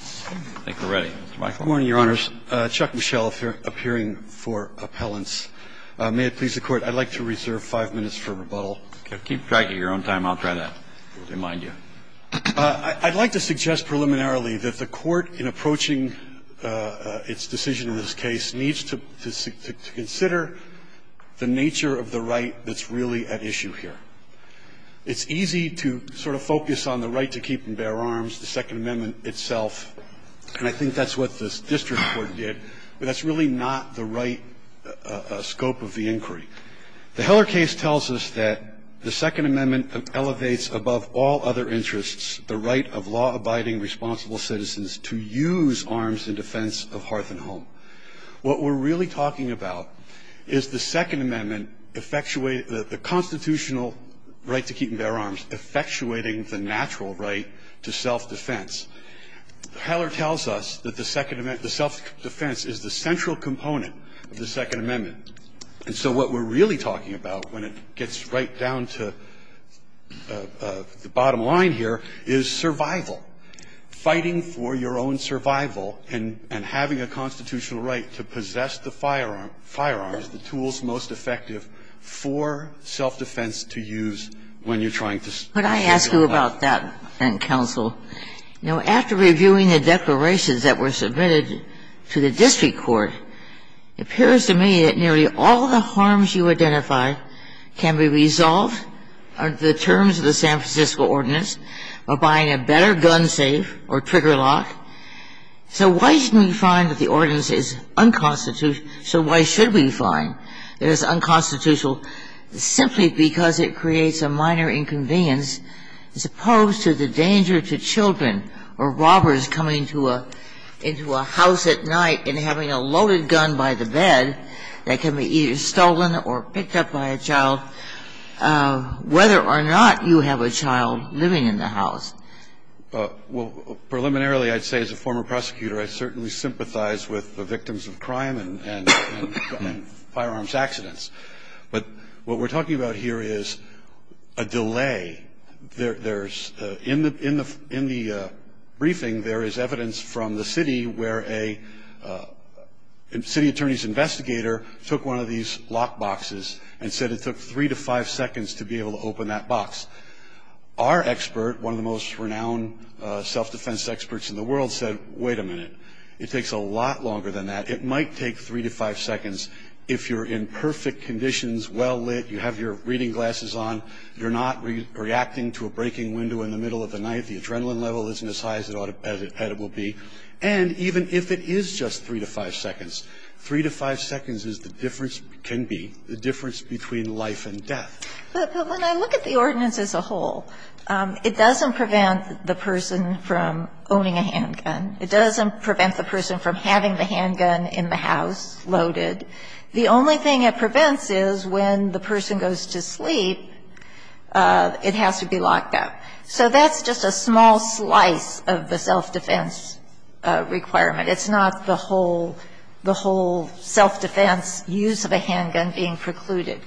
I think we're ready, Mr. Michael. Good morning, Your Honors. Chuck Michel appearing for appellants. May it please the Court, I'd like to reserve five minutes for rebuttal. Keep dragging your own time. I'll try that, if they mind you. I'd like to suggest preliminarily that the Court, in approaching its decision in this case, needs to consider the nature of the right that's really at issue here. It's easy to sort of focus on the right to keep and bear arms, the Second Amendment, and I think that's what this district court did, but that's really not the right scope of the inquiry. The Heller case tells us that the Second Amendment elevates, above all other interests, the right of law-abiding, responsible citizens to use arms in defense of hearth and home. What we're really talking about is the Second Amendment, the constitutional right to keep and bear arms, effectuating the natural right to self-defense. Heller tells us that the self-defense is the central component of the Second Amendment, and so what we're really talking about, when it gets right down to the bottom line here, is survival, fighting for your own survival and having a constitutional right to possess the firearms, the tools most effective for self-defense to use when you're trying to save your life. But I ask you about that, and counsel, you know, after reviewing the declarations that were submitted to the district court, it appears to me that nearly all the harms you identify can be resolved under the terms of the San Francisco Ordinance by buying a better gun safe or trigger lock. So why shouldn't we find that the ordinance is unconstitutional? So why should we find that it's unconstitutional simply because it creates a minor inconvenience as opposed to the danger to children or robbers coming to a – into a house at night and having a loaded gun by the bed that can be either stolen or picked up by a child, whether or not you have a child living in the house? Well, preliminarily, I'd say as a former prosecutor, I certainly sympathize with the victims of crime and firearms accidents. But what we're talking about here is a delay. There's – in the briefing, there is evidence from the city where a city attorney's investigator took one of these lock boxes and said it took three to five seconds to be able to open that box. Our expert, one of the most renowned self-defense experts in the world, said, wait a minute, it takes a lot longer than that. It might take three to five seconds if you're in perfect conditions, well lit, you have your reading glasses on, you're not reacting to a breaking window in the middle of the night, the adrenaline level isn't as high as it ought to – as it will be, and even if it is just three to five seconds, three to five seconds is the difference – can be the difference between life and death. But when I look at the ordinance as a whole, it doesn't prevent the person from owning a handgun. It doesn't prevent the person from having the handgun in the house loaded. The only thing it prevents is when the person goes to sleep, it has to be locked up. So that's just a small slice of the self-defense requirement. It's not the whole – the whole self-defense use of a handgun being precluded.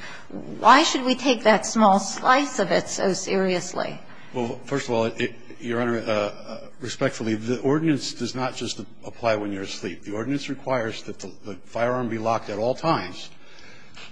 Why should we take that small slice of it so seriously? Well, first of all, Your Honor, respectfully, the ordinance does not just apply when you're asleep. The ordinance requires that the firearm be locked at all times,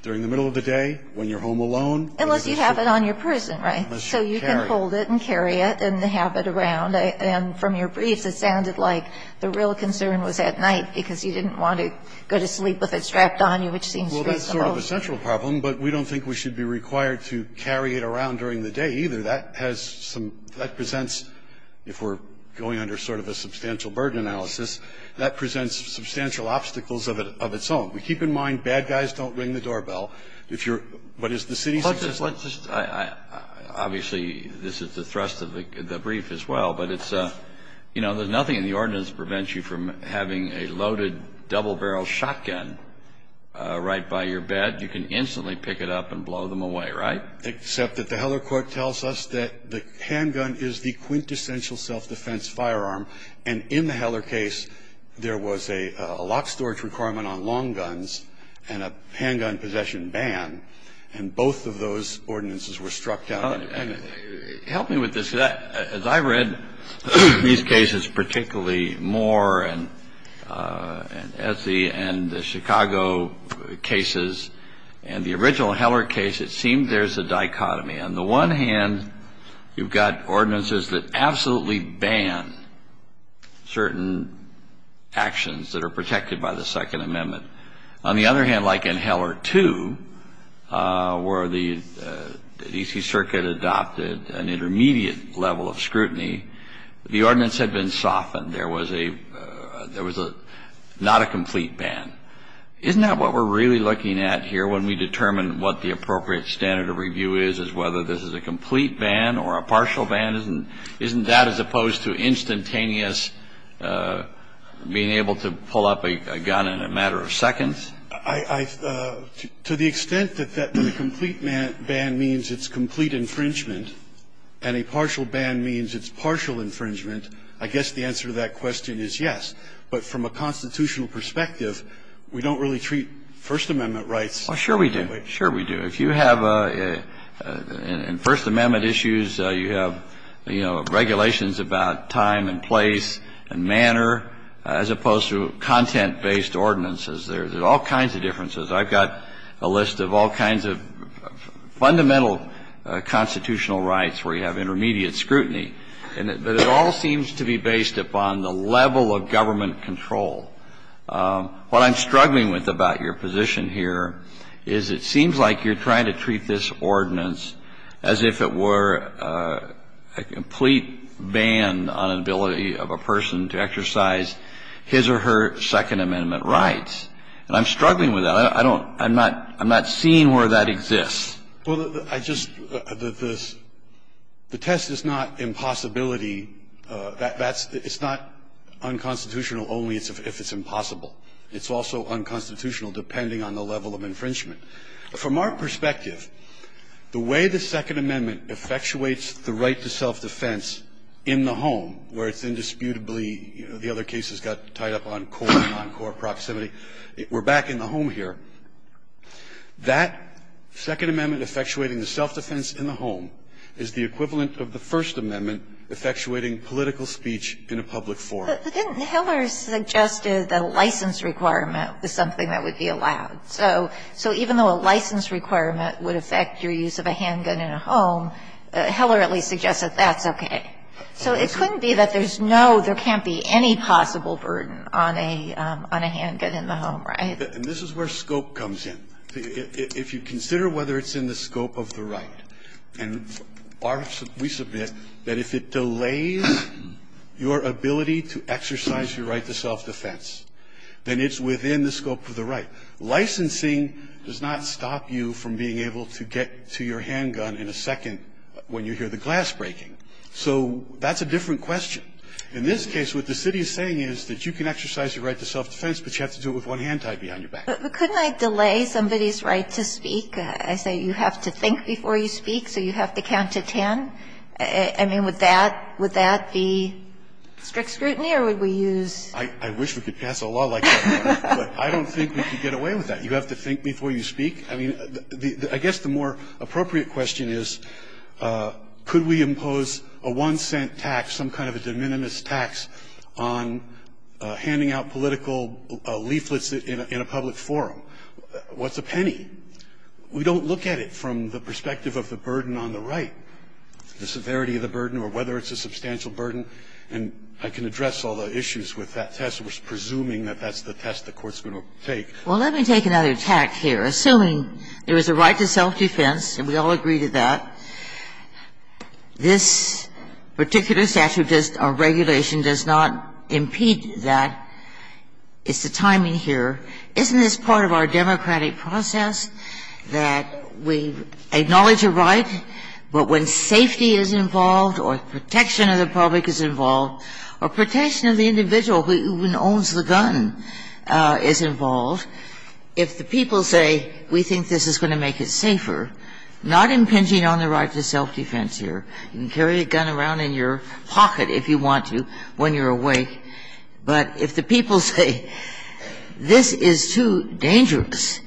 during the middle of the day, when you're home alone. Unless you have it on your person, right? Unless you carry it. So you can hold it and carry it and have it around. And from your briefs, it sounded like the real concern was at night because you didn't want to go to sleep with it strapped on you, which seems reasonable. Well, that's sort of a central problem, but we don't think we should be required to carry it around during the day either. That has some – that presents – if we're going under sort of a substantial burden analysis, that presents substantial obstacles of its own. We keep in mind, bad guys don't ring the doorbell. If you're – what is the city's existence? Obviously, this is the thrust of the brief as well, but it's – you know, there's nothing in the ordinance that prevents you from having a loaded double-barrel shotgun right by your bed. You can instantly pick it up and blow them away, right? Except that the Heller court tells us that the handgun is the quintessential self-defense firearm, and in the Heller case, there was a locked storage requirement on long guns and a handgun possession ban, and both of those ordinances were struck down independently. Help me with this. As I read these cases particularly more, and as the – and the Chicago cases, and the original Heller case, it seemed there's a dichotomy. On the one hand, you've got ordinances that absolutely ban certain actions that are protected by the Second Amendment. On the other hand, like in Heller 2, where the DC Circuit adopted an intermediate level of scrutiny, the ordinance had been softened. There was a – there was a – not a complete ban. Isn't that what we're really looking at here when we determine what the appropriate standard of review is, is whether this is a complete ban or a partial ban? Isn't – isn't that as opposed to instantaneous being able to pull up a gun in a matter of seconds? I – to the extent that a complete ban means it's complete infringement, and a partial ban means it's partial infringement, I guess the answer to that question is yes. But from a constitutional perspective, we don't really treat First Amendment rights that way. Well, sure we do. Sure we do. If you have a – in First Amendment issues, you have, you know, regulations about time and place and manner, as opposed to content-based ordinances. There's all kinds of differences. I've got a list of all kinds of fundamental constitutional rights where you have intermediate scrutiny. And it all seems to be based upon the level of government control. What I'm struggling with about your position here is it seems like you're trying to treat this ordinance as if it were a complete ban on an ability of a person to exercise his or her Second Amendment rights, and I'm struggling with that. I don't – I'm not – I'm not seeing where that exists. Well, I just – the test is not impossibility. That's – it's not unconstitutional only if it's impossible. It's also unconstitutional depending on the level of infringement. From our perspective, the way the Second Amendment effectuates the right to self-defense in the home, where it's indisputably – the other cases got tied up on core and non-core proximity, we're back in the home here, that Second Amendment effectuating the self-defense in the home is the equivalent of the First Amendment effectuating political speech in a public forum. But didn't Hiller suggest that a license requirement is something that would be allowed? So even though a license requirement would affect your use of a handgun in a home, Hiller at least suggested that's okay. So it couldn't be that there's no – there can't be any possible burden on a – on a handgun in the home, right? And this is where scope comes in. If you consider whether it's in the scope of the right, and we submit that if it delays your ability to exercise your right to self-defense, then it's within the scope of the right. Licensing does not stop you from being able to get to your handgun in a second when you hear the glass breaking. So that's a different question. In this case, what the city is saying is that you can exercise your right to self-defense, but you have to do it with one hand tied behind your back. But couldn't I delay somebody's right to speak? I say you have to think before you speak, so you have to count to 10. I mean, would that – would that be strict scrutiny, or would we use – I wish we could pass a law like that, but I don't think we could get away with that. You have to think before you speak. I mean, I guess the more appropriate question is, could we impose a one-cent tax, some kind of a de minimis tax, on handing out political leaflets in a public forum? What's a penny? We don't look at it from the perspective of the burden on the right, the severity of the burden or whether it's a substantial burden. And I can address all the issues with that test, which is presuming that that's the test the Court's going to take. Well, let me take another tact here. Assuming there is a right to self-defense, and we all agree to that, this particular statute or regulation does not impede that. It's the timing here. Isn't this part of our democratic process that we acknowledge a right, but when safety is involved or protection of the public is involved or protection of the individual who owns the gun is involved, if the people say, we think this is going to make it safer, not impinging on the right to self-defense here. You can carry a gun around in your pocket if you want to when you're awake, but if the people say, this is too dangerous,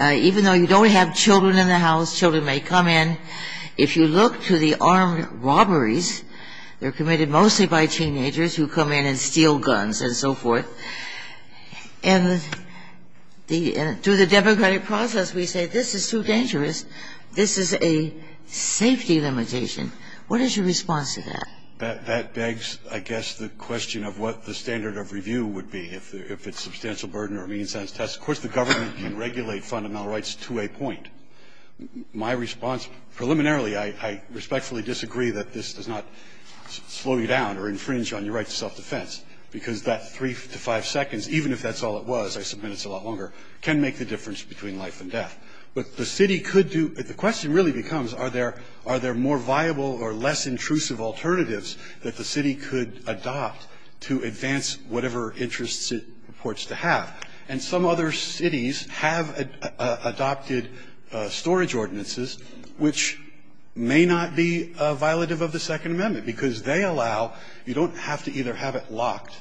even though you don't have children in the house, children may come in, if you look to the armed robberies, they're committed mostly by teenagers who come in and steal guns and so forth. And the – through the democratic process, we say this is too dangerous. This is a safety limitation. What is your response to that? That begs, I guess, the question of what the standard of review would be if it's substantial burden or a means-sense test. Of course, the government can regulate fundamental rights to a point. My response, preliminarily, I respectfully disagree that this does not slow you down or infringe on your right to self-defense, because that three to five seconds, even if that's all it was, I submit it's a lot longer, can make the difference between life and death. But the city could do – the question really becomes, are there more viable or less intrusive alternatives that the city could adopt to advance whatever interests it reports to have? And some other cities have adopted storage ordinances, which may not be a violative of the Second Amendment, because they allow – you don't have to either have it locked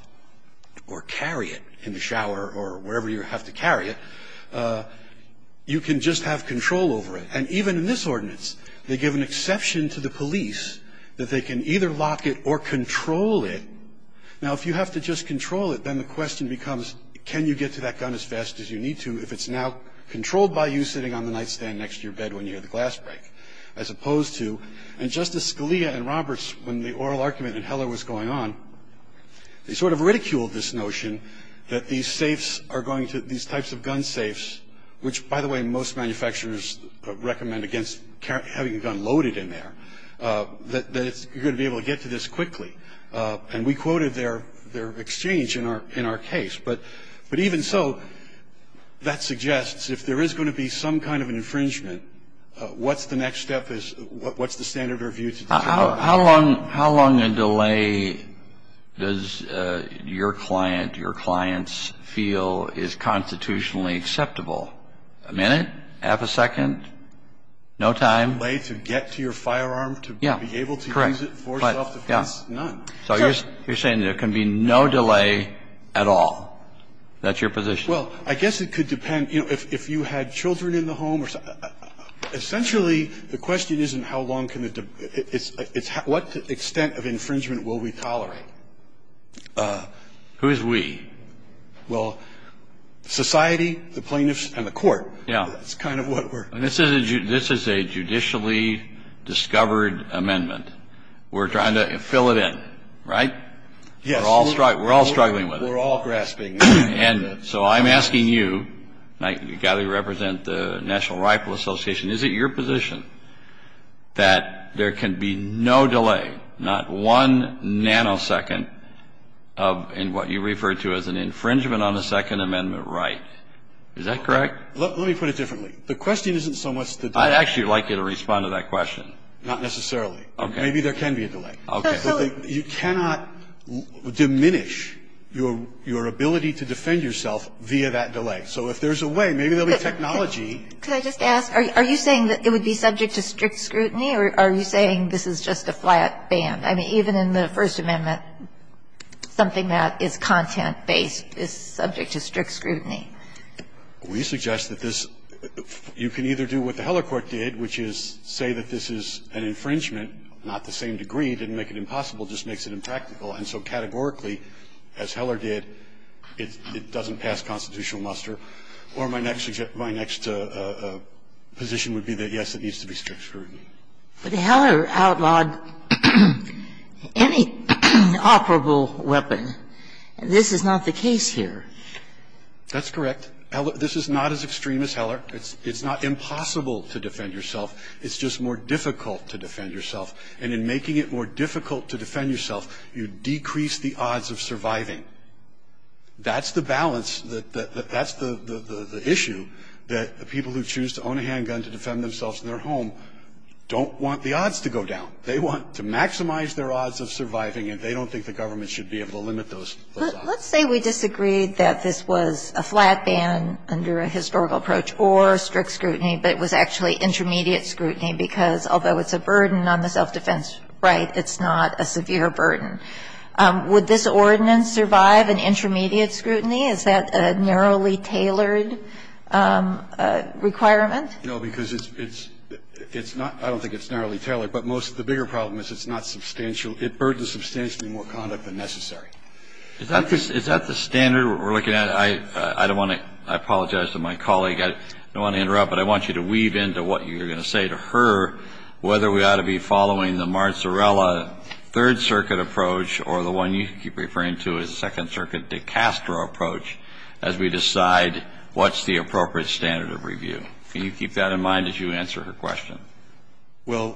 or carry it in the shower or wherever you have to carry it. You can just have control over it. And even in this ordinance, they give an exception to the police that they can either lock it or control it. Now, if you have to just control it, then the question becomes, can you get to that gun as fast as you need to if it's now controlled by you sitting on the nightstand next to your bed when you hear the glass break, as opposed to – and Justice Scalia and Roberts, when the oral argument in Heller was going on, they sort of ridiculed this notion that these safes are going to – these types of gun safes, which, by the way, most manufacturers recommend against having a gun loaded in there, that it's – you're going to be able to get to this quickly. And we quoted their exchange in our case. But even so, that suggests if there is going to be some kind of an infringement, what's the next step is – what's the standard of review to determine? How long a delay does your client, your clients, feel is constitutionally acceptable? A minute? Half a second? No time? A delay to get to your firearm to be able to use it for self-defense? Yeah. Correct. None. So you're saying there can be no delay at all. That's your position? Well, I guess it could depend. You know, if you had children in the home or – essentially, the question isn't how long can the – it's what extent of infringement will we tolerate? Who is we? Well, society, the plaintiffs, and the court. Yeah. That's kind of what we're – And this is a – this is a judicially discovered amendment. We're trying to fill it in, right? Yes. We're all – we're all struggling with it. We're all grasping at it. And so I'm asking you, and I – you've got to represent the National Rifle Association. Is it your position that there can be no delay, not one nanosecond, in what you refer to as an infringement on a Second Amendment right? Is that correct? Let me put it differently. The question isn't so much the delay. I'd actually like you to respond to that question. Not necessarily. Okay. Maybe there can be a delay. Okay. But you cannot diminish your – your ability to defend yourself via that delay. So if there's a way, maybe there'll be technology – Could I just ask, are you saying that it would be subject to strict scrutiny or are you saying this is just a flat ban? I mean, even in the First Amendment, something that is content-based is subject to strict scrutiny. We suggest that this – you can either do what the Heller Court did, which is say that this is an infringement, not the same degree, didn't make it impossible, just makes it impractical. And so categorically, as Heller did, it doesn't pass constitutional muster. Or my next – my next position would be that, yes, it needs to be strict scrutiny. But Heller outlawed any operable weapon. This is not the case here. That's correct. This is not as extreme as Heller. It's not impossible to defend yourself. It's just more difficult to defend yourself. And in making it more difficult to defend yourself, you decrease the odds of surviving. That's the balance that – that's the issue that people who choose to own a handgun to defend themselves in their home don't want the odds to go down. They want to maximize their odds of surviving, and they don't think the government should be able to limit those odds. Let's say we disagreed that this was a flat ban under a historical approach or strict scrutiny, but it was actually intermediate scrutiny, because although it's a burden on the self-defense right, it's not a severe burden. Would this ordinance survive an intermediate scrutiny? Is that a narrowly tailored requirement? No, because it's – it's not – I don't think it's narrowly tailored. But most of the bigger problem is it's not substantial. It burdens substantially more conduct than necessary. Is that the standard we're looking at? I don't want to – I apologize to my colleague. I don't want to interrupt, but I want you to weave into what you're going to say to her whether we ought to be following the Marzarella Third Circuit approach or the one you keep referring to as the Second Circuit de Castro approach as we decide what's the appropriate standard of review. Can you keep that in mind as you answer her question? Well,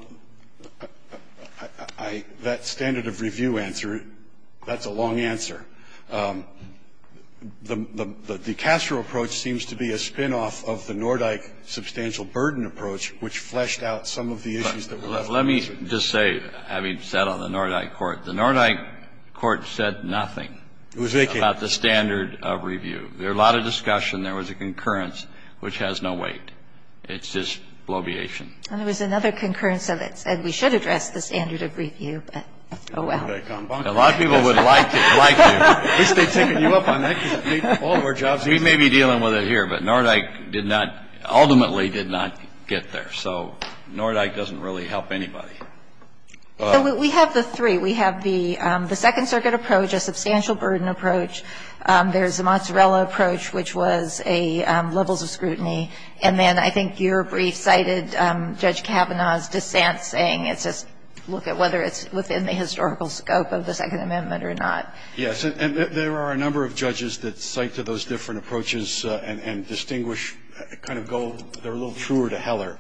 I – that standard of review answer, that's a long answer. The de Castro approach seems to be a spinoff of the Nordyke substantial burden approach, which fleshed out some of the issues that were left open. Let me just say, having sat on the Nordyke court, the Nordyke court said nothing about the standard of review. There was a lot of discussion. There was a concurrence, which has no weight. It's just bloviation. And there was another concurrence that said we should address the standard of review, but oh, well. A lot of people would like to. At least they'd taken you up on that because all of our jobs need to be done. We may be dealing with it here, but Nordyke did not – ultimately did not get there. So Nordyke doesn't really help anybody. We have the three. We have the Second Circuit approach, a substantial burden approach. There's the Marzarella approach, which was a levels of scrutiny. And then I think your brief cited Judge Kavanaugh's dissent saying it's just look at whether it's within the historical scope of the Second Amendment or not. Verrilli,, Yes. And there are a number of judges that cite to those different approaches and distinguish kind of go – they're a little truer to Heller.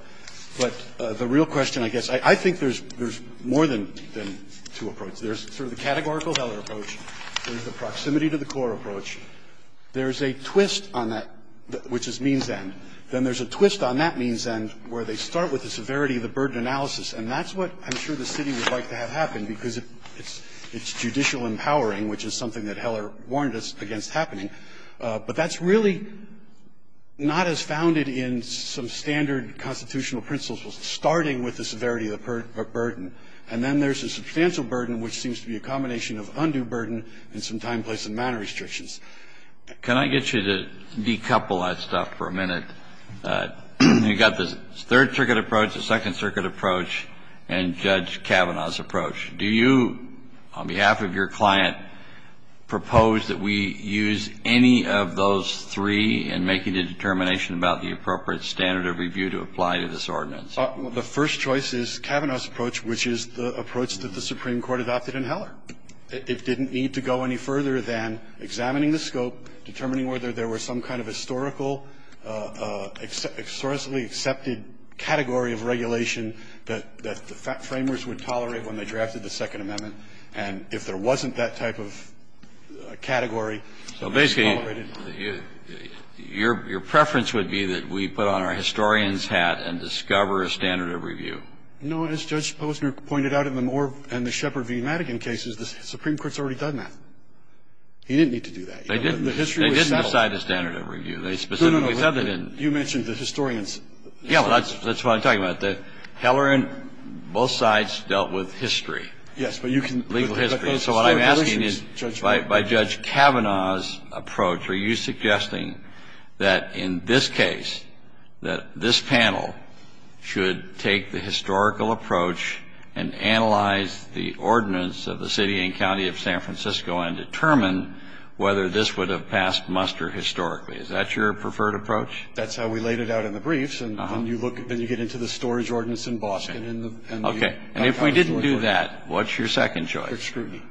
But the real question, I guess, I think there's more than two approaches. There's sort of the categorical Heller approach. There's the proximity to the core approach. There's a twist on that, which is means end. Then there's a twist on that means end where they start with the severity of the burden analysis. And that's what I'm sure the city would like to have happen, because it's judicial empowering, which is something that Heller warned us against happening. But that's really not as founded in some standard constitutional principles starting with the severity of the burden. And then there's a substantial burden, which seems to be a combination of undue burden and some time, place and manner restrictions. Kennedy, Can I get you to decouple that stuff for a minute? You've got the Third Circuit approach, the Second Circuit approach, and Judge Kavanaugh's approach. Do you, on behalf of your client, propose that we use any of those three in making a determination about the appropriate standard of review to apply to this ordinance? The first choice is Kavanaugh's approach, which is the approach that the Supreme Court adopted in Heller. It didn't need to go any further than examining the scope, determining whether there were some kind of historical, historically accepted category of regulation that the framers would tolerate when they drafted the Second Amendment. And if there wasn't that type of category, they tolerated it. So basically, your preference would be that we put on our historian's hat and discover a standard of review? No. As Judge Posner pointed out in the Moore and the Shepard v. Madigan cases, the Supreme Court's already done that. He didn't need to do that. They didn't. It's outside the standard of review. They specifically said they didn't. No, no, no. You mentioned the historian's. Yeah. That's what I'm talking about. The Heller and both sides dealt with history. Yes. But you can legal history. So what I'm asking is by Judge Kavanaugh's approach, are you suggesting that in this case, that this panel should take the historical approach and analyze the ordinance of the city and county of San Francisco and determine whether this would have passed muster historically? Is that your preferred approach? That's how we laid it out in the briefs. And when you look, then you get into the storage ordinance in Boston and the county storage ordinance. Okay. And if we didn't do that, what's your second choice? Strict scrutiny.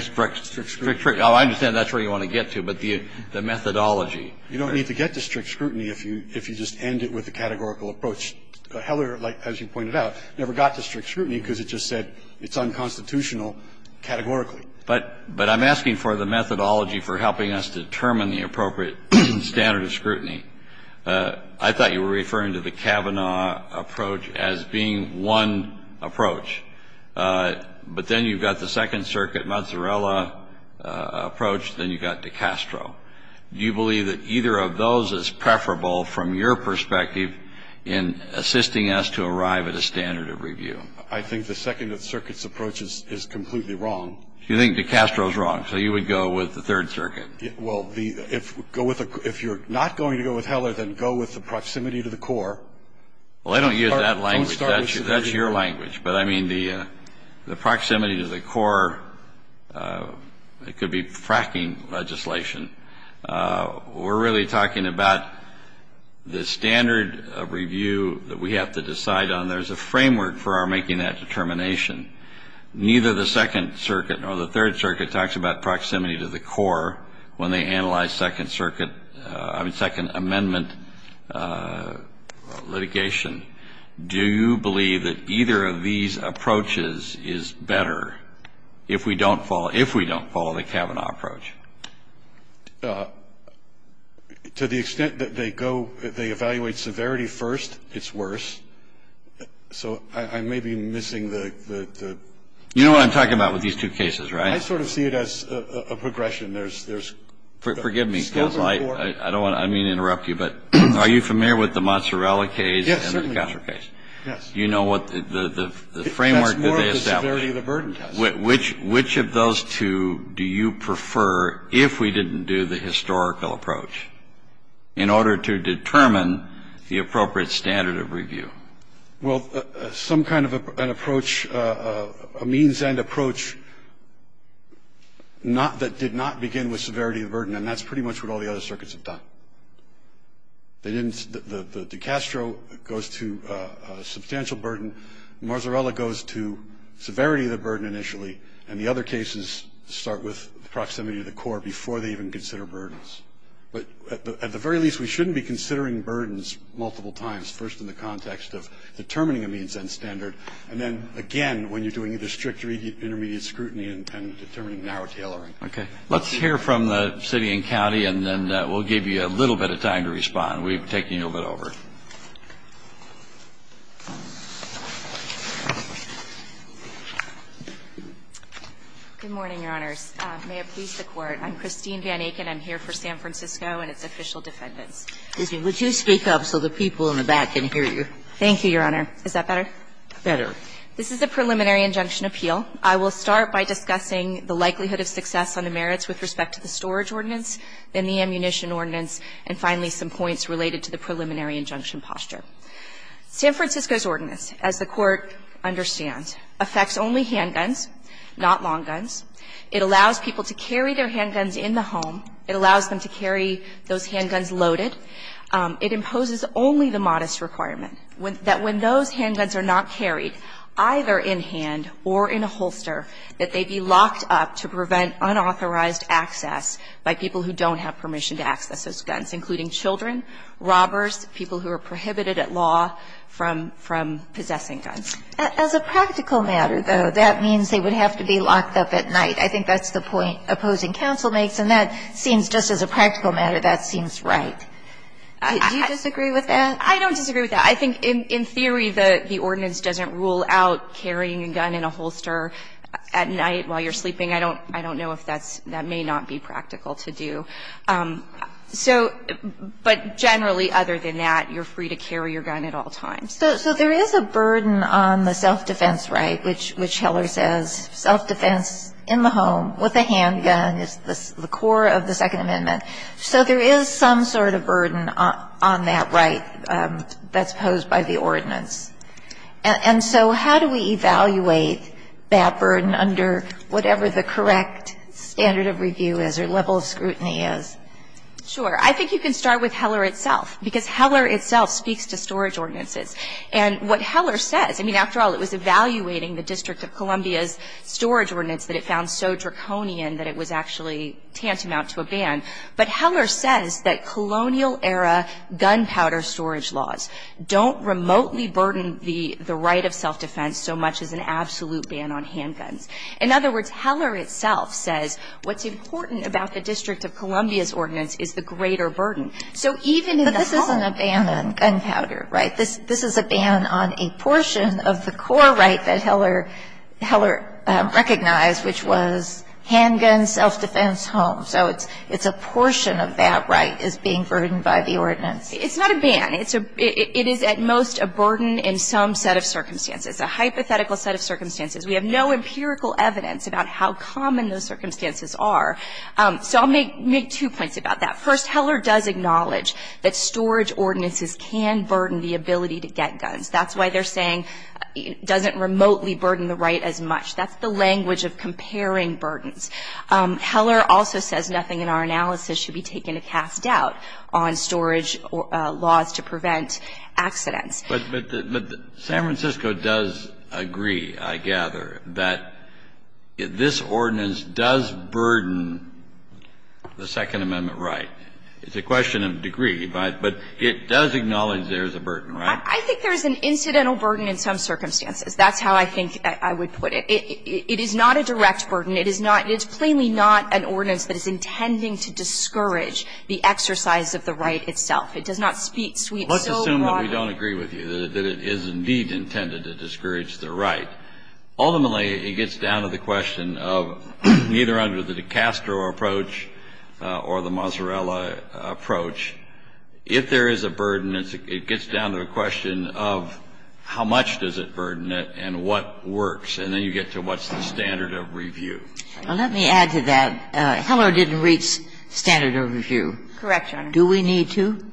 Strict scrutiny. Oh, I understand that's where you want to get to, but the methodology. You don't need to get to strict scrutiny if you just end it with a categorical approach. Heller, as you pointed out, never got to strict scrutiny because it just said it's unconstitutional categorically. But I'm asking for the methodology for helping us determine the appropriate standard of scrutiny. I thought you were referring to the Kavanaugh approach as being one approach. But then you've got the Second Circuit, Mozzarella approach, then you've got DeCastro. Do you believe that either of those is preferable from your perspective in assisting us to arrive at a standard of review? I think the Second Circuit's approach is completely wrong. You think DeCastro's wrong, so you would go with the Third Circuit? Well, if you're not going to go with Heller, then go with the proximity to the core. Well, I don't use that language. That's your language. But I mean, the proximity to the core, it could be fracking legislation. We're really talking about the standard of review that we have to decide on. There's a framework for our making that determination. Neither the Second Circuit nor the Third Circuit talks about proximity to the core when they analyze Second Circuit, I mean, Second Amendment litigation. Do you believe that either of these approaches is better if we don't follow the Kavanaugh approach? To the extent that they go, they evaluate severity first, it's worse. So I may be missing the- You know what I'm talking about with these two cases, right? I sort of see it as a progression. There's- Forgive me, because I don't want to, I didn't mean to interrupt you, but are you familiar with the Mozzarella case and the DeCastro case? Yes. Do you know what the framework that they established? That's more of the severity of the burden test. Which of those two do you prefer if we didn't do the historical approach in order to determine the appropriate standard of review? Well, some kind of an approach, a means and approach that did not begin with severity of burden. And that's pretty much what all the other circuits have done. The DeCastro goes to substantial burden. Mozzarella goes to severity of the burden initially. And the other cases start with proximity to the core before they even consider burdens. But at the very least, we shouldn't be considering burdens multiple times, first in the context of determining a means and standard. And then again, when you're doing either strict or intermediate scrutiny and determining narrow tailoring. Okay, let's hear from the city and county and then we'll give you a little bit of time to respond. We've taken you a little bit over. Good morning, your honors. May it please the court. I'm Christine Van Aken. I'm here for San Francisco and its official defendants. Excuse me. Would you speak up so the people in the back can hear you? Thank you, your honor. Is that better? Better. This is a preliminary injunction appeal. I will start by discussing the likelihood of success on the merits with respect to the storage ordinance, then the ammunition ordinance, and finally some points related to the preliminary injunction posture. San Francisco's ordinance, as the Court understands, affects only handguns, not long guns. It allows people to carry their handguns in the home. It allows them to carry those handguns loaded. It imposes only the modest requirement that when those handguns are not carried, either in hand or in a holster, that they be locked up to prevent unauthorized access by people who don't have permission to access those guns, including children, robbers, people who are prohibited at law from possessing guns. As a practical matter, though, that means they would have to be locked up at night. I think that's the point opposing counsel makes, and that seems, just as a practical matter, that seems right. Do you disagree with that? I don't disagree with that. I think in theory the ordinance doesn't rule out carrying a gun in a holster at night while you're sleeping. I don't know if that's – that may not be practical to do. So – but generally, other than that, you're free to carry your gun at all times. So there is a burden on the self-defense right, which Heller says self-defense in the home with a handgun is the core of the Second Amendment. So there is some sort of burden on that right that's posed by the ordinance. And so how do we evaluate that burden under whatever the correct standard of review is or level of scrutiny is? Sure. I think you can start with Heller itself, because Heller itself speaks to storage ordinances. And what Heller says – I mean, after all, it was evaluating the District of Columbia's storage ordinance that it found so draconian that it was actually tantamount to a ban. But Heller says that colonial-era gunpowder storage laws don't remotely burden the right of self-defense so much as an absolute ban on handguns. In other words, Heller itself says what's important about the District of Columbia's ordinance is the greater burden. So even in the home – But this isn't a ban on gunpowder, right? This is a ban on a portion of the core right that Heller recognized, which was handguns, self-defense, home. So it's a portion of that right is being burdened by the ordinance. It's not a ban. It is at most a burden in some set of circumstances, a hypothetical set of circumstances. We have no empirical evidence about how common those circumstances are. So I'll make two points about that. First, Heller does acknowledge that storage ordinances can burden the ability to get guns. That's why they're saying it doesn't remotely burden the right as much. That's the language of comparing burdens. Heller also says nothing in our analysis should be taken to cast doubt on storage laws to prevent accidents. But San Francisco does agree, I gather, that this ordinance does burden the Second Amendment. It's a question of degree, but it does acknowledge there is a burden, right? I think there is an incidental burden in some circumstances. That's how I think I would put it. It is not a direct burden. It is not – it's plainly not an ordinance that is intending to discourage the exercise of the right itself. It does not speak so broadly. Let's assume that we don't agree with you, that it is indeed intended to discourage the right. Ultimately, it gets down to the question of, either under the DiCastro approach or the Mazzarella approach, if there is a burden, it gets down to the question of how much does it burden it and what works. And then you get to what's the standard of review. Well, let me add to that. Heller didn't reach standard of review. Correct, Your Honor. Do we need to?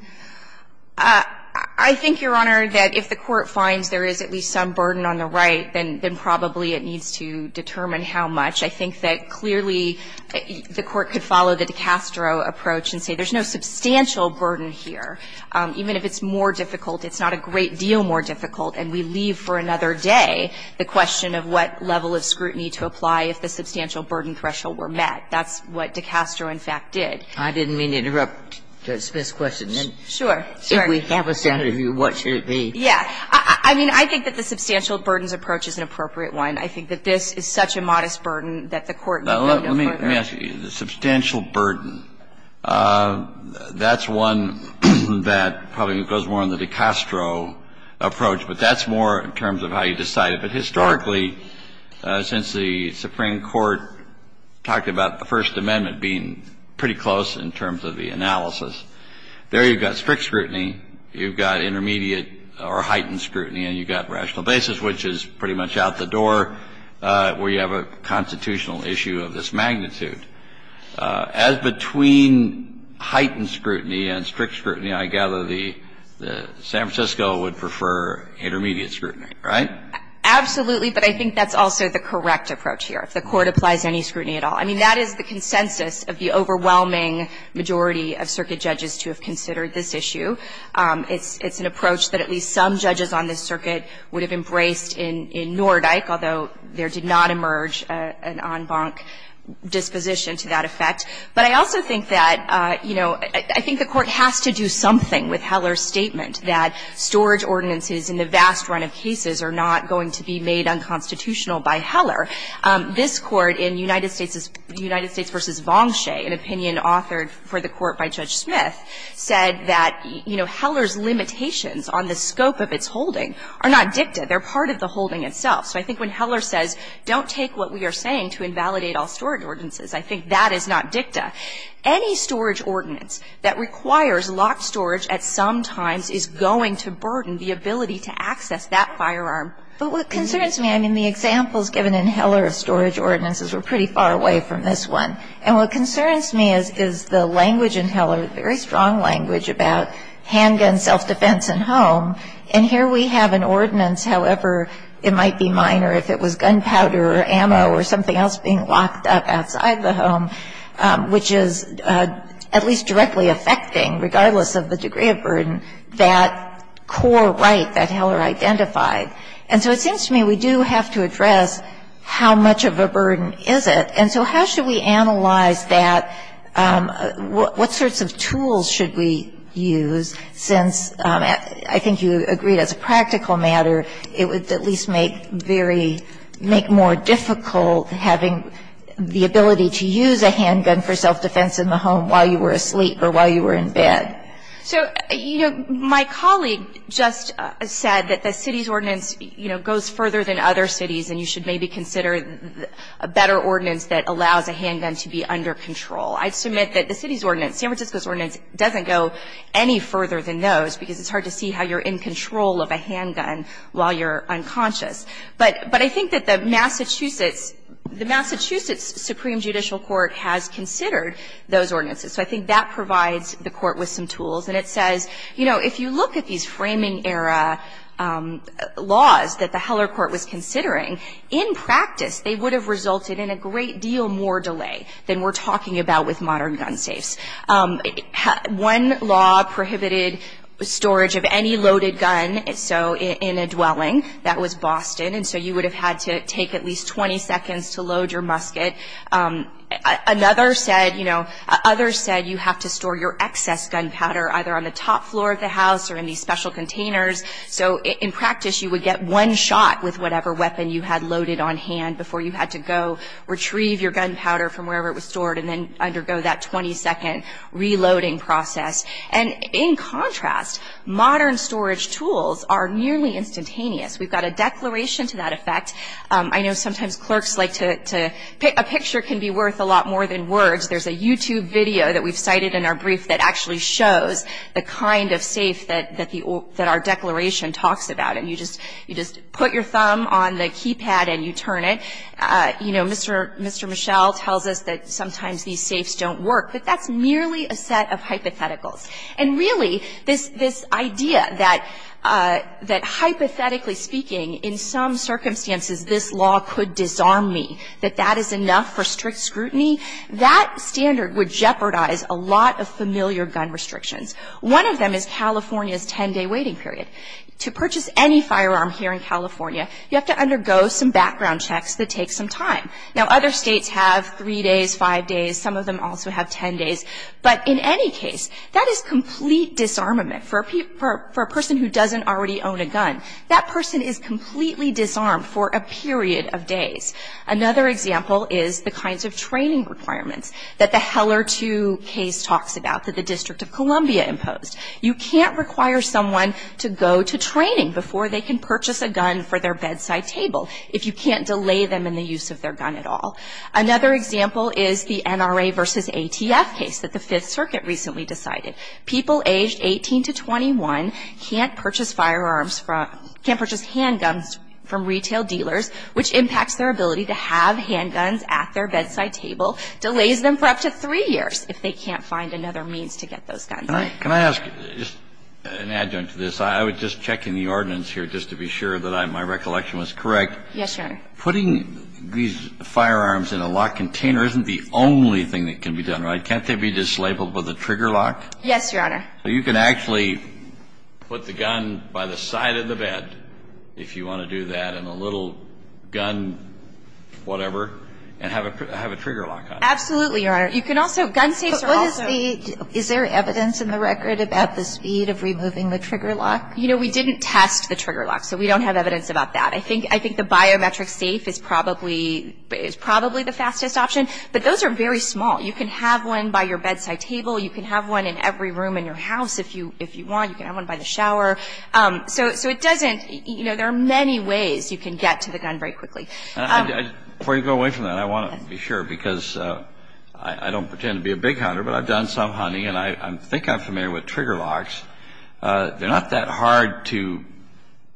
I think, Your Honor, that if the Court finds there is at least some burden on the right, then probably it needs to determine how much. I think that clearly the Court could follow the DiCastro approach and say there's no substantial burden here. Even if it's more difficult, it's not a great deal more difficult, and we leave for another day the question of what level of scrutiny to apply if the substantial burden threshold were met. That's what DiCastro, in fact, did. I didn't mean to interrupt Smith's question. Sure. If we have a standard of review, what should it be? Yeah. I mean, I think that the substantial burdens approach is an appropriate one. I think that this is such a modest burden that the Court need not go further. Let me ask you. The substantial burden, that's one that probably goes more on the DiCastro approach, but that's more in terms of how you decide it. But historically, since the Supreme Court talked about the First Amendment being pretty close in terms of the analysis, there you've got strict scrutiny, you've got intermediate or heightened scrutiny, and you've got rational basis, which is pretty much out the door where you have a constitutional issue of this magnitude. As between heightened scrutiny and strict scrutiny, I gather the San Francisco would prefer intermediate scrutiny, right? Absolutely. But I think that's also the correct approach here, if the Court applies any scrutiny at all. I mean, that is the consensus of the overwhelming majority of circuit judges to have considered this issue. It's an approach that at least some judges on this circuit would have embraced in Nordyke, although there did not emerge an en banc disposition to that effect. But I also think that, you know, I think the Court has to do something with Heller's statement that storage ordinances in the vast run of cases are not going to be made unconstitutional by Heller. This Court in United States v. Vongshay, an opinion authored for the Court by Judge Smith, said that, you know, Heller's limitations on the scope of its holding are not dicta. They're part of the holding itself. So I think when Heller says, don't take what we are saying to invalidate all storage ordinances, I think that is not dicta. Any storage ordinance that requires locked storage at some times is going to burden the ability to access that firearm. But what concerns me, I mean, the examples given in Heller of storage ordinances were pretty far away from this one. And what concerns me is the language in Heller, very strong language, about handgun self-defense in home. And here we have an ordinance, however it might be minor, if it was gunpowder or ammo or something else being locked up outside the home, which is at least directly affecting, regardless of the degree of burden, that core right that Heller identified. And so it seems to me we do have to address how much of a burden is it. And so how should we analyze that? What sorts of tools should we use, since I think you agreed as a practical matter, it would at least make very � make more difficult having the ability to use a handgun for self-defense in the home while you were asleep or while you were in bed. So, you know, my colleague just said that the city's ordinance, you know, goes further than other cities, and you should maybe consider a better ordinance that allows a handgun to be under control. I'd submit that the city's ordinance, San Francisco's ordinance, doesn't go any further than those, because it's hard to see how you're in control of a handgun while you're in control of a handgun while you're unconscious. But I think that the Massachusetts � the Massachusetts Supreme Judicial Court has considered those ordinances. So I think that provides the Court with some tools. And it says, you know, if you look at these framing-era laws that the Heller Court was considering, in practice, they would have resulted in a great deal more delay than we're talking about with modern gun safes. One law prohibited storage of any loaded gun, so in a dwelling. That was Boston. And so you would have had to take at least 20,000 pounds of gunpowder and put it in And that would have resulted in a great deal more delay than we're talking about with modern gun safes. So, you know, if you look at these framing-era laws that the Heller Court was considering, in practice, they would have resulted in a great deal more delay than we're talking about with modern gun safes. One law prohibited storage of any loaded gun, so in a dwelling. That was Boston. And so you would have had to take at least 20 seconds to load your musket. Another said, you know, others said you have to store your excess gunpowder either on the top floor of the house or in these special containers. So in practice, you would get one shot with whatever weapon you had loaded on hand before you had to go retrieve your gunpowder from wherever it was stored and then undergo that 20-second reloading process. And in contrast, modern storage tools are nearly instantaneous. We've got a declaration to that effect. I know sometimes clerks like to – a picture can be worth a lot more than words. There's a YouTube video that we've cited in our brief that actually shows the kind of safe that the – that our declaration talks about. And you just put your thumb on the keypad and you turn it. You know, Mr. Michel tells us that sometimes these safes don't work. But that's merely a set of hypotheticals. And really, this idea that hypothetically speaking, in some circumstances, this law could disarm me, that that is enough for strict scrutiny, that standard would jeopardize a lot of familiar gun restrictions. One of them is California's 10-day waiting period. To purchase any firearm here in California, you have to undergo some background checks that take some time. Now, other States have three days, five days. Some of them also have 10 days. But in any case, that is complete disarmament for a person who doesn't already own a gun. That person is completely disarmed for a period of days. Another example is the kinds of training requirements that the Heller 2 case talks about that the District of Columbia imposed. You can't require someone to go to training before they can purchase a gun for their bedside table if you can't delay them in the use of their gun at all. Another example is the NRA v. ATF case that the Fifth Circuit recently decided. People aged 18 to 21 can't purchase firearms from – can't purchase handguns from retail dealers, which impacts their ability to have handguns at their bedside table, delays them for up to three years if they can't find another means to get those guns. Kennedy. Can I ask, just an adjunct to this, I would just check in the ordinance here just to be sure that my recollection was correct. Yes, Your Honor. Putting these firearms in a lock container isn't the only thing that can be done, right? Can't they be dislabeled with a trigger lock? Yes, Your Honor. So you can actually put the gun by the side of the bed, if you want to do that, and a little gun whatever, and have a trigger lock on it. Absolutely, Your Honor. You can also – gun safes are also – But what is the – is there evidence in the record about the speed of removing the trigger lock? You know, we didn't test the trigger lock, so we don't have evidence about that. I think the biometric safe is probably the fastest option, but those are very small. You can have one by your bedside table. You can have one in every room in your house if you want. You can have one by the shower. So it doesn't – you know, there are many ways you can get to the gun very quickly. Before you go away from that, I want to be sure, because I don't pretend to be a big hunter, but I've done some hunting, and I think I'm familiar with trigger locks. They're not that hard to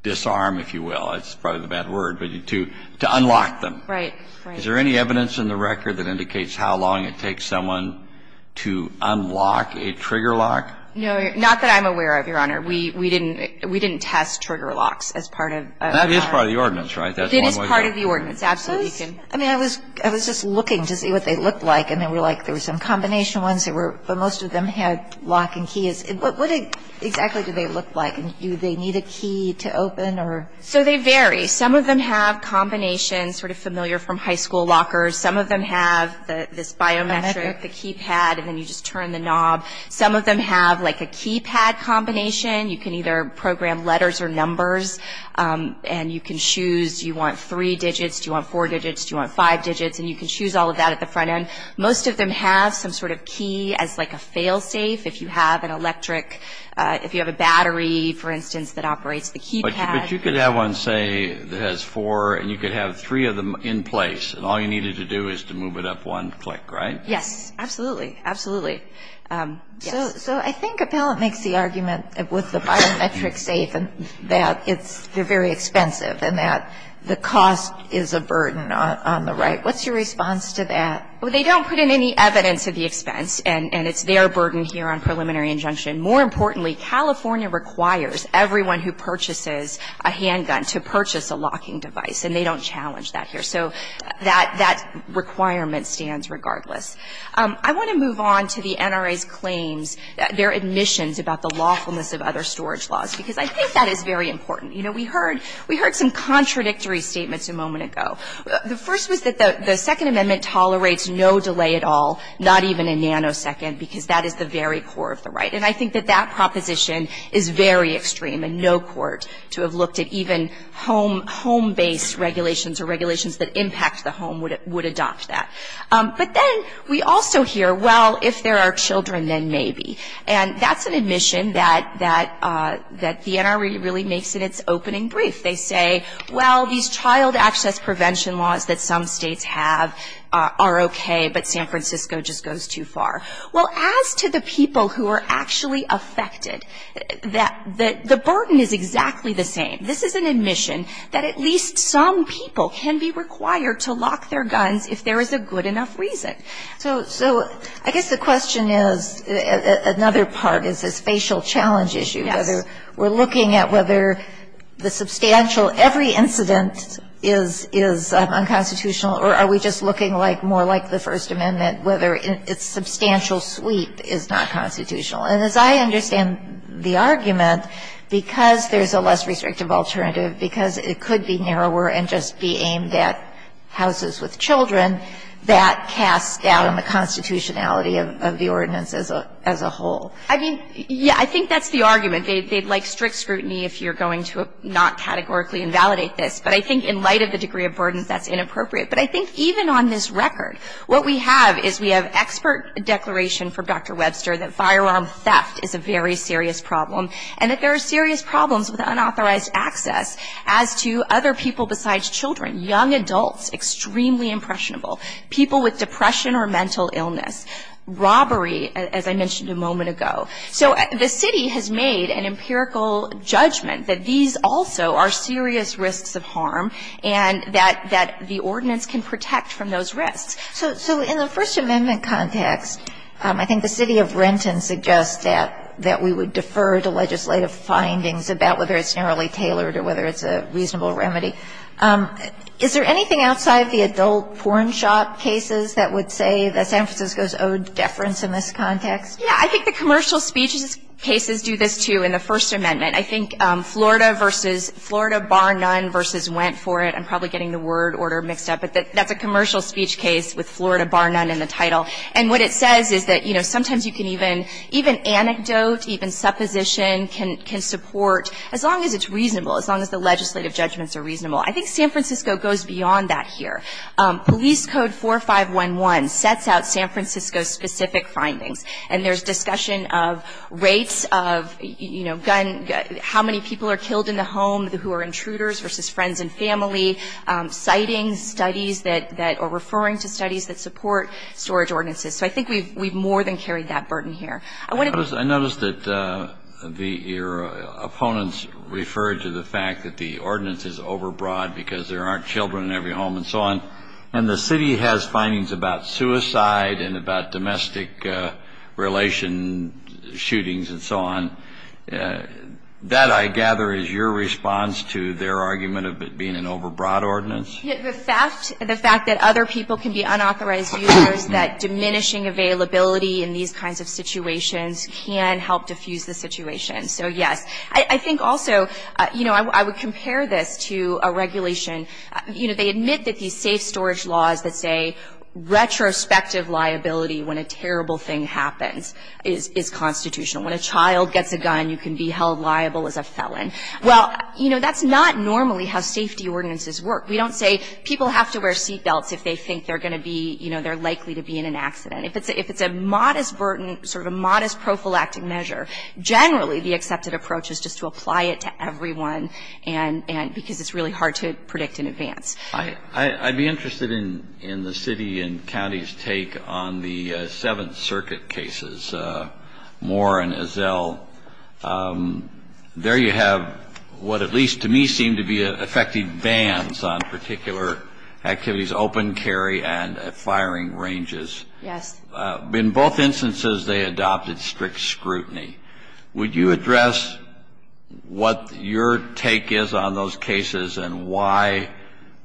disarm, if you will. It's probably the bad word, but to unlock them. Right, right. Is there any evidence in the record that indicates how long it takes someone to unlock a trigger lock? No, not that I'm aware of, Your Honor. We didn't – we didn't test trigger locks as part of our – That is part of the ordinance, right? That's one way to go. It is part of the ordinance. Absolutely, you can – I mean, I was just looking to see what they looked like, and they were like – there were some combination ones that were – but most of them had lock and keys. What exactly do they look like? Do they need a key to open or – So they vary. Some of them have combinations, sort of familiar from high school lockers. Some of them have this biometric, the keypad, and then you just turn the knob. Some of them have, like, a keypad combination. You can either program letters or numbers, and you can choose – do you want three digits, do you want four digits, do you want five digits? And you can choose all of that at the front end. Most of them have some sort of key as, like, a fail-safe. If you have an electric – if you have a battery, for instance, that operates the keypad – But you could have one, say, that has four, and you could have three of them in place, and all you needed to do is to move it up one click, right? Yes, absolutely. Absolutely. So I think Appellant makes the argument with the biometric safe that it's – they're very expensive and that the cost is a burden on the right. What's your response to that? Well, they don't put in any evidence of the expense, and it's their burden here on preliminary injunction. More importantly, California requires everyone who purchases a handgun to purchase a locking device, and they don't challenge that here. So that requirement stands regardless. I want to move on to the NRA's claims – their admissions about the lawfulness of other storage laws, because I think that is very important. You know, we heard – we heard some contradictory statements a moment ago. The first was that the Second Amendment tolerates no delay at all, not even a nanosecond, because that is the very core of the right. And I think that that proposition is very extreme, and no court to have looked at even home-based regulations or regulations that impact the home would adopt that. But then we also hear, well, if there are children, then maybe. And that's an admission that the NRA really makes in its opening brief. They say, well, these child access prevention laws that some states have are okay, but San Francisco just goes too far. Well, as to the people who are actually affected, that – the burden is exactly the same. This is an admission that at least some people can be required to lock their guns if there is a good enough reason. So – so I guess the question is – another part is this facial challenge issue. Yes. Whether we're looking at whether the substantial – every incident is – is unconstitutional, or are we just looking like – more like the First Amendment, whether its substantial sweep is not constitutional? And as I understand the argument, because there's a less restrictive alternative, because it could be narrower and just be aimed at houses with children, that casts doubt on the constitutionality of the ordinance as a – as a whole. I mean, yes, I think that's the argument. They'd like strict scrutiny if you're going to not categorically invalidate this. But I think in light of the degree of burdens, that's inappropriate. But I think even on this record, what we have is we have expert declaration from Dr. Webster that firearm theft is a very serious problem, and that there are serious problems with unauthorized access as to other people besides children, young adults, extremely impressionable, people with depression or mental illness, robbery, as I mentioned a moment ago. So the city has made an empirical judgment that these also are serious risks of harm, and that the ordinance can protect from those risks. So in the First Amendment context, I think the city of Renton suggests that we would defer to legislative findings about whether it's narrowly tailored or whether it's a reasonable remedy. Is there anything outside the adult porn shop cases that would say that San Francisco's owed deference in this context? Yeah. I think the commercial speech cases do this, too, in the First Amendment. I think Florida versus Florida bar none versus went for it. I'm probably getting the word order mixed up. But that's a commercial speech case with Florida bar none in the title. And what it says is that, you know, sometimes you can even anecdote, even supposition can support, as long as it's reasonable, as long as the legislative judgments are reasonable. I think San Francisco goes beyond that here. Police Code 4511 sets out San Francisco's specific findings. And there's discussion of rates of, you know, gun, how many people are killed in the home who are intruders versus friends and family, sightings, studies that are referring to studies that support storage ordinances. So I think we've more than carried that burden here. I noticed that your opponents referred to the fact that the ordinance is overbroad because there aren't children in every home and so on. And the city has findings about suicide and about domestic relation shootings and so on. That, I gather, is your response to their argument of it being an overbroad ordinance? The fact that other people can be unauthorized users, that diminishing availability in these kinds of situations can help diffuse the situation. So, yes. I think also, you know, I would compare this to a regulation, you know, they admit that these safe storage laws that say retrospective liability when a terrible thing happens is constitutional. When a child gets a gun, you can be held liable as a felon. Well, you know, that's not normally how safety ordinances work. We don't say people have to wear seat belts if they think they're going to be, you know, they're likely to be in an accident. If it's a modest burden, sort of a modest prophylactic measure, generally the accepted approach is just to apply it to everyone and because it's really hard to predict in advance. I'd be interested in the city and county's take on the Seventh Circuit cases, Moore and Ezell. There you have what at least to me seemed to be affected bans on particular activities, open carry and firing ranges. Yes. In both instances, they adopted strict scrutiny. Would you address what your take is on those cases and why,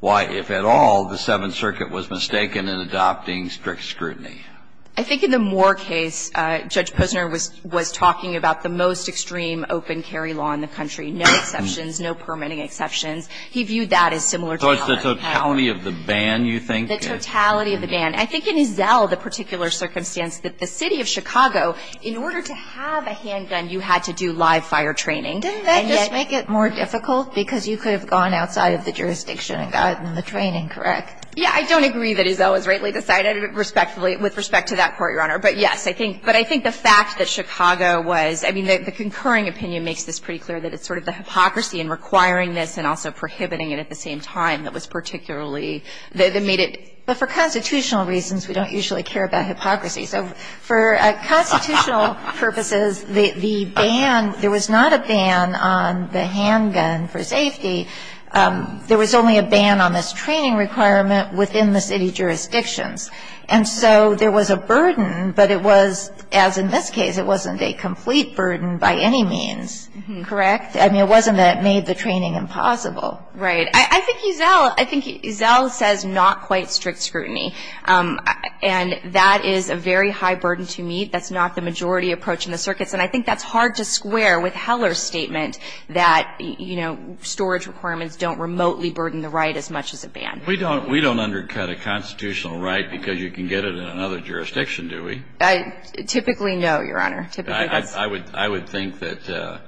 if at all, the Seventh Circuit was mistaken in adopting strict scrutiny? I think in the Moore case, Judge Posner was talking about the most extreme open carry law in the country. No exceptions, no permitting exceptions. He viewed that as similar to Moore. So it's the totality of the ban, you think? The totality of the ban. I think in Ezell, the particular circumstance that the city of Chicago, in order to have a handgun, you had to do live fire training. Didn't that just make it more difficult because you could have gone outside of the jurisdiction and gotten the training, correct? Yeah, I don't agree that Ezell was rightly decided with respect to that court, Your Honor. But yes, I think the fact that Chicago was, I mean, the concurring opinion makes this pretty clear that it's sort of the hypocrisy in requiring this and also prohibiting it at the same time that was particularly, that made it. But for constitutional reasons, we don't usually care about hypocrisy. So for constitutional purposes, the ban, there was not a ban on the handgun for safety. There was only a ban on this training requirement within the city jurisdictions. And so there was a burden, but it was, as in this case, it wasn't a complete burden by any means, correct? I mean, it wasn't that it made the training impossible. Right. I think Ezell says not quite strict scrutiny, and that is a very high burden to meet. That's not the majority approach in the circuits, and I think that's hard to square with Heller's statement that, you know, storage requirements don't remotely burden the right as much as a ban. We don't undercut a constitutional right because you can get it in another jurisdiction, do we? Typically, no, Your Honor. I would think that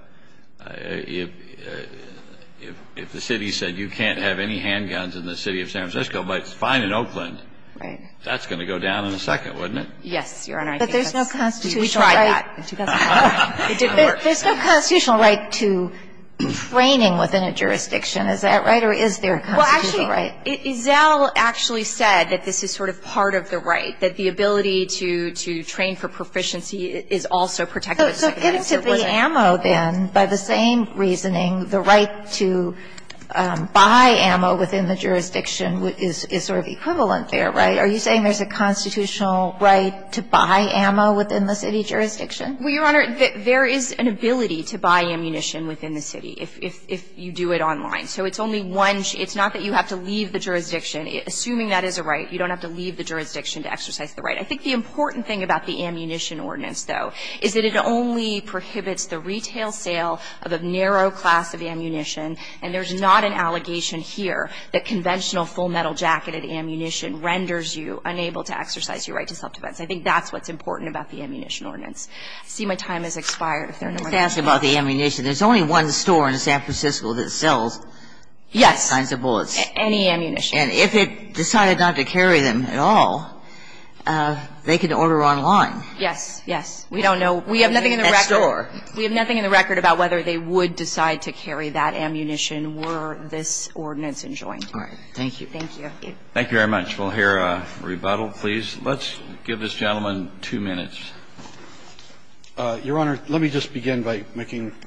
if the city said you can't have any handguns in the city of San Francisco, but it's fine in Oakland, that's going to go down in a second, wouldn't it? Yes, Your Honor. But there's no constitutional right to training within a jurisdiction. Is that right or is there a constitutional right? Well, actually, Ezell actually said that this is sort of part of the right, that the ability to train for proficiency is also protected. So getting to the ammo, then, by the same reasoning, the right to buy ammo within the jurisdiction is sort of equivalent there, right? Are you saying there's a constitutional right to buy ammo within the city jurisdiction? Well, Your Honor, there is an ability to buy ammunition within the city if you do it online. So it's only one – it's not that you have to leave the jurisdiction. Assuming that is a right, you don't have to leave the jurisdiction to exercise the right. I think the important thing about the ammunition ordinance, though, is that it only prohibits the retail sale of a narrow class of ammunition, and there's not an allegation here that conventional full-metal jacketed ammunition renders you unable to exercise your right to self-defense. I think that's what's important about the ammunition ordinance. I see my time has expired, if there are no more questions. Let's ask about the ammunition. There's only one store in San Francisco that sells these kinds of bullets. Yes, any ammunition. And if it decided not to carry them at all, they can order online. Yes. Yes. We don't know. We have nothing in the record. We have nothing in the record about whether they would decide to carry that ammunition were this ordinance enjoined. All right. Thank you. Thank you. Thank you very much. We'll hear a rebuttal, please. Let's give this gentleman two minutes. Your Honor, let me just begin by making –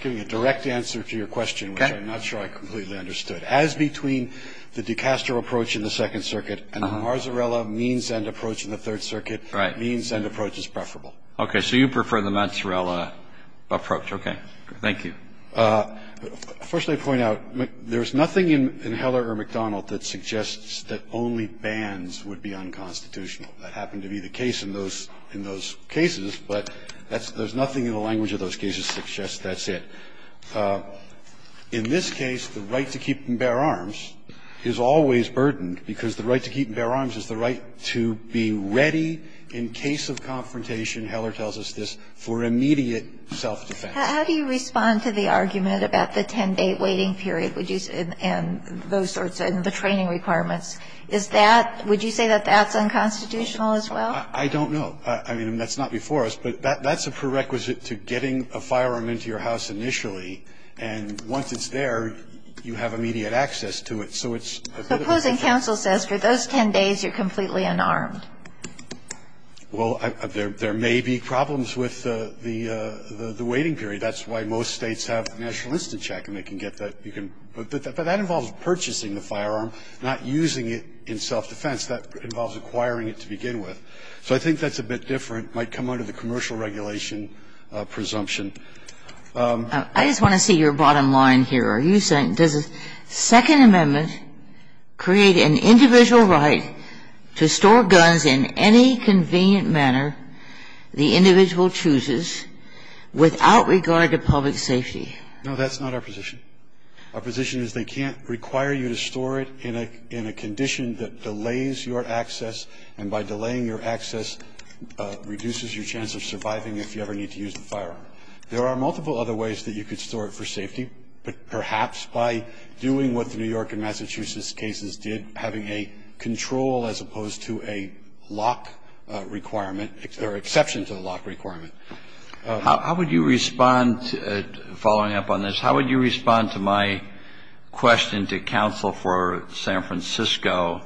giving a direct answer to your question, which I'm not sure I completely understood. I understand, of course, that you liked the mars-a-rella means-and approaches to it. As between the Dukaster approach in the Second Circuit and the mars-a-rella means-and approach in the Third Circuit, means-and approach is preferable. Okay. So you prefer the mars-a-r-rella approach, okay. Thank you. First I'd point out, there's nothing in Heller or McDonald that suggests that only bans would be unconstitutional. That happened to be the case in those cases, but there's nothing in the language of those cases that suggests that's it. In this case, the right to keep and bear arms is always burdened, because the right to keep and bear arms is the right to be ready in case of confrontation, Heller tells us this, for immediate self-defense. How do you respond to the argument about the 10-day waiting period, would you say, and those sorts of training requirements? Is that – would you say that that's unconstitutional as well? I don't know. I mean, that's not before us, but that's a prerequisite to getting a firearm into your house initially, and once it's there, you have immediate access to it. So it's a bit of a different thing. So opposing counsel says for those 10 days, you're completely unarmed. Well, there may be problems with the waiting period. That's why most States have national instant check, and they can get that. But that involves purchasing the firearm, not using it in self-defense. That involves acquiring it to begin with. So I think that's a bit different. It might come under the commercial regulation presumption. I just want to see your bottom line here. Are you saying – does the Second Amendment create an individual right to store guns in any convenient manner the individual chooses without regard to public safety? No, that's not our position. Our position is they can't require you to store it in a condition that delays your access, and by delaying your access, reduces your chance of surviving if you ever need to use the firearm. There are multiple other ways that you could store it for safety, but perhaps by doing what the New York and Massachusetts cases did, having a control as opposed to a lock requirement, or exception to the lock requirement. How would you respond – following up on this – how would you respond to my question to counsel for San Francisco?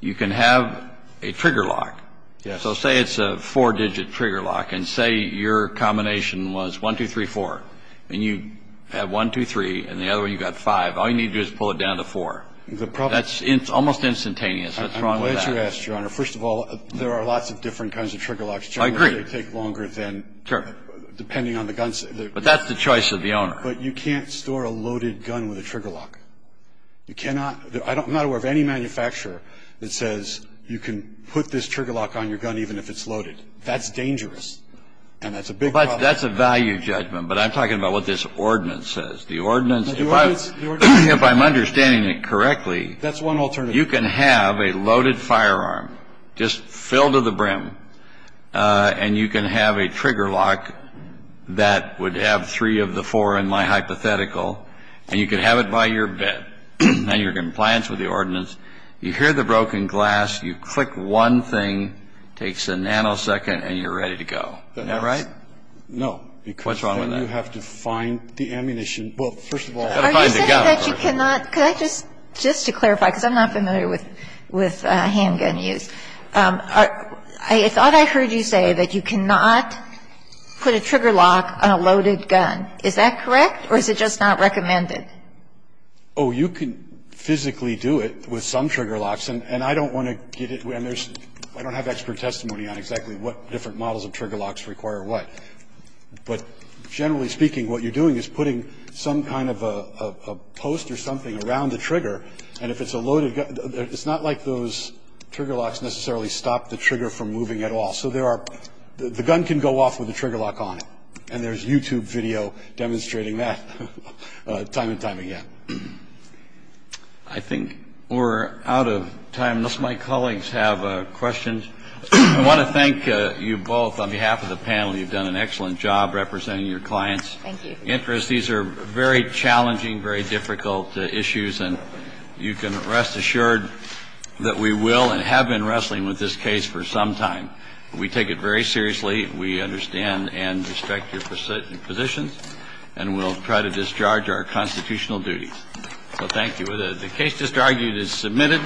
You can have a trigger lock. Yes. So say it's a four-digit trigger lock, and say your combination was one, two, three, four, and you have one, two, three, and the other one, you've got five. All you need to do is pull it down to four. The problem – That's almost instantaneous. What's wrong with that? I'm glad you asked, Your Honor. First of all, there are lots of different kinds of trigger locks. I agree. Generally, they take longer than – Sure. Depending on the gun – But that's the choice of the owner. But you can't store a loaded gun with a trigger lock. You cannot – I'm not aware of any manufacturer that says you can put this gun on a loaded gun, even if it's loaded. That's dangerous, and that's a big problem. Well, that's a value judgment, but I'm talking about what this ordinance says. The ordinance – The ordinance – If I'm understanding it correctly – That's one alternative. You can have a loaded firearm just filled to the brim, and you can have a trigger lock that would have three of the four in my hypothetical, and you can have it by your bed, and you're in compliance with the ordinance. You hear the broken glass, you click one thing, it takes a nanosecond, and you're ready to go. Isn't that right? No. Because then you have to find the ammunition – well, first of all, you've got to find the gun first. Are you saying that you cannot – could I just – just to clarify, because I'm not familiar with handgun use – I thought I heard you say that you cannot put a trigger lock on a loaded gun. Is that correct, or is it just not recommended? Oh, you can physically do it with some trigger locks, and I don't want to get – and there's – I don't have expert testimony on exactly what different models of trigger locks require what. But generally speaking, what you're doing is putting some kind of a post or something around the trigger, and if it's a loaded – it's not like those trigger locks necessarily stop the trigger from moving at all. So there are – the gun can go off with a trigger lock on it, and there's YouTube video demonstrating that time and time again. I think we're out of time, unless my colleagues have questions. I want to thank you both. On behalf of the panel, you've done an excellent job representing your clients' interests. Thank you. These are very challenging, very difficult issues, and you can rest assured that we will and have been wrestling with this case for some time. We take it very seriously. We understand and respect your positions, and we'll try to discharge our constitutional duties. So thank you. The case just argued is submitted.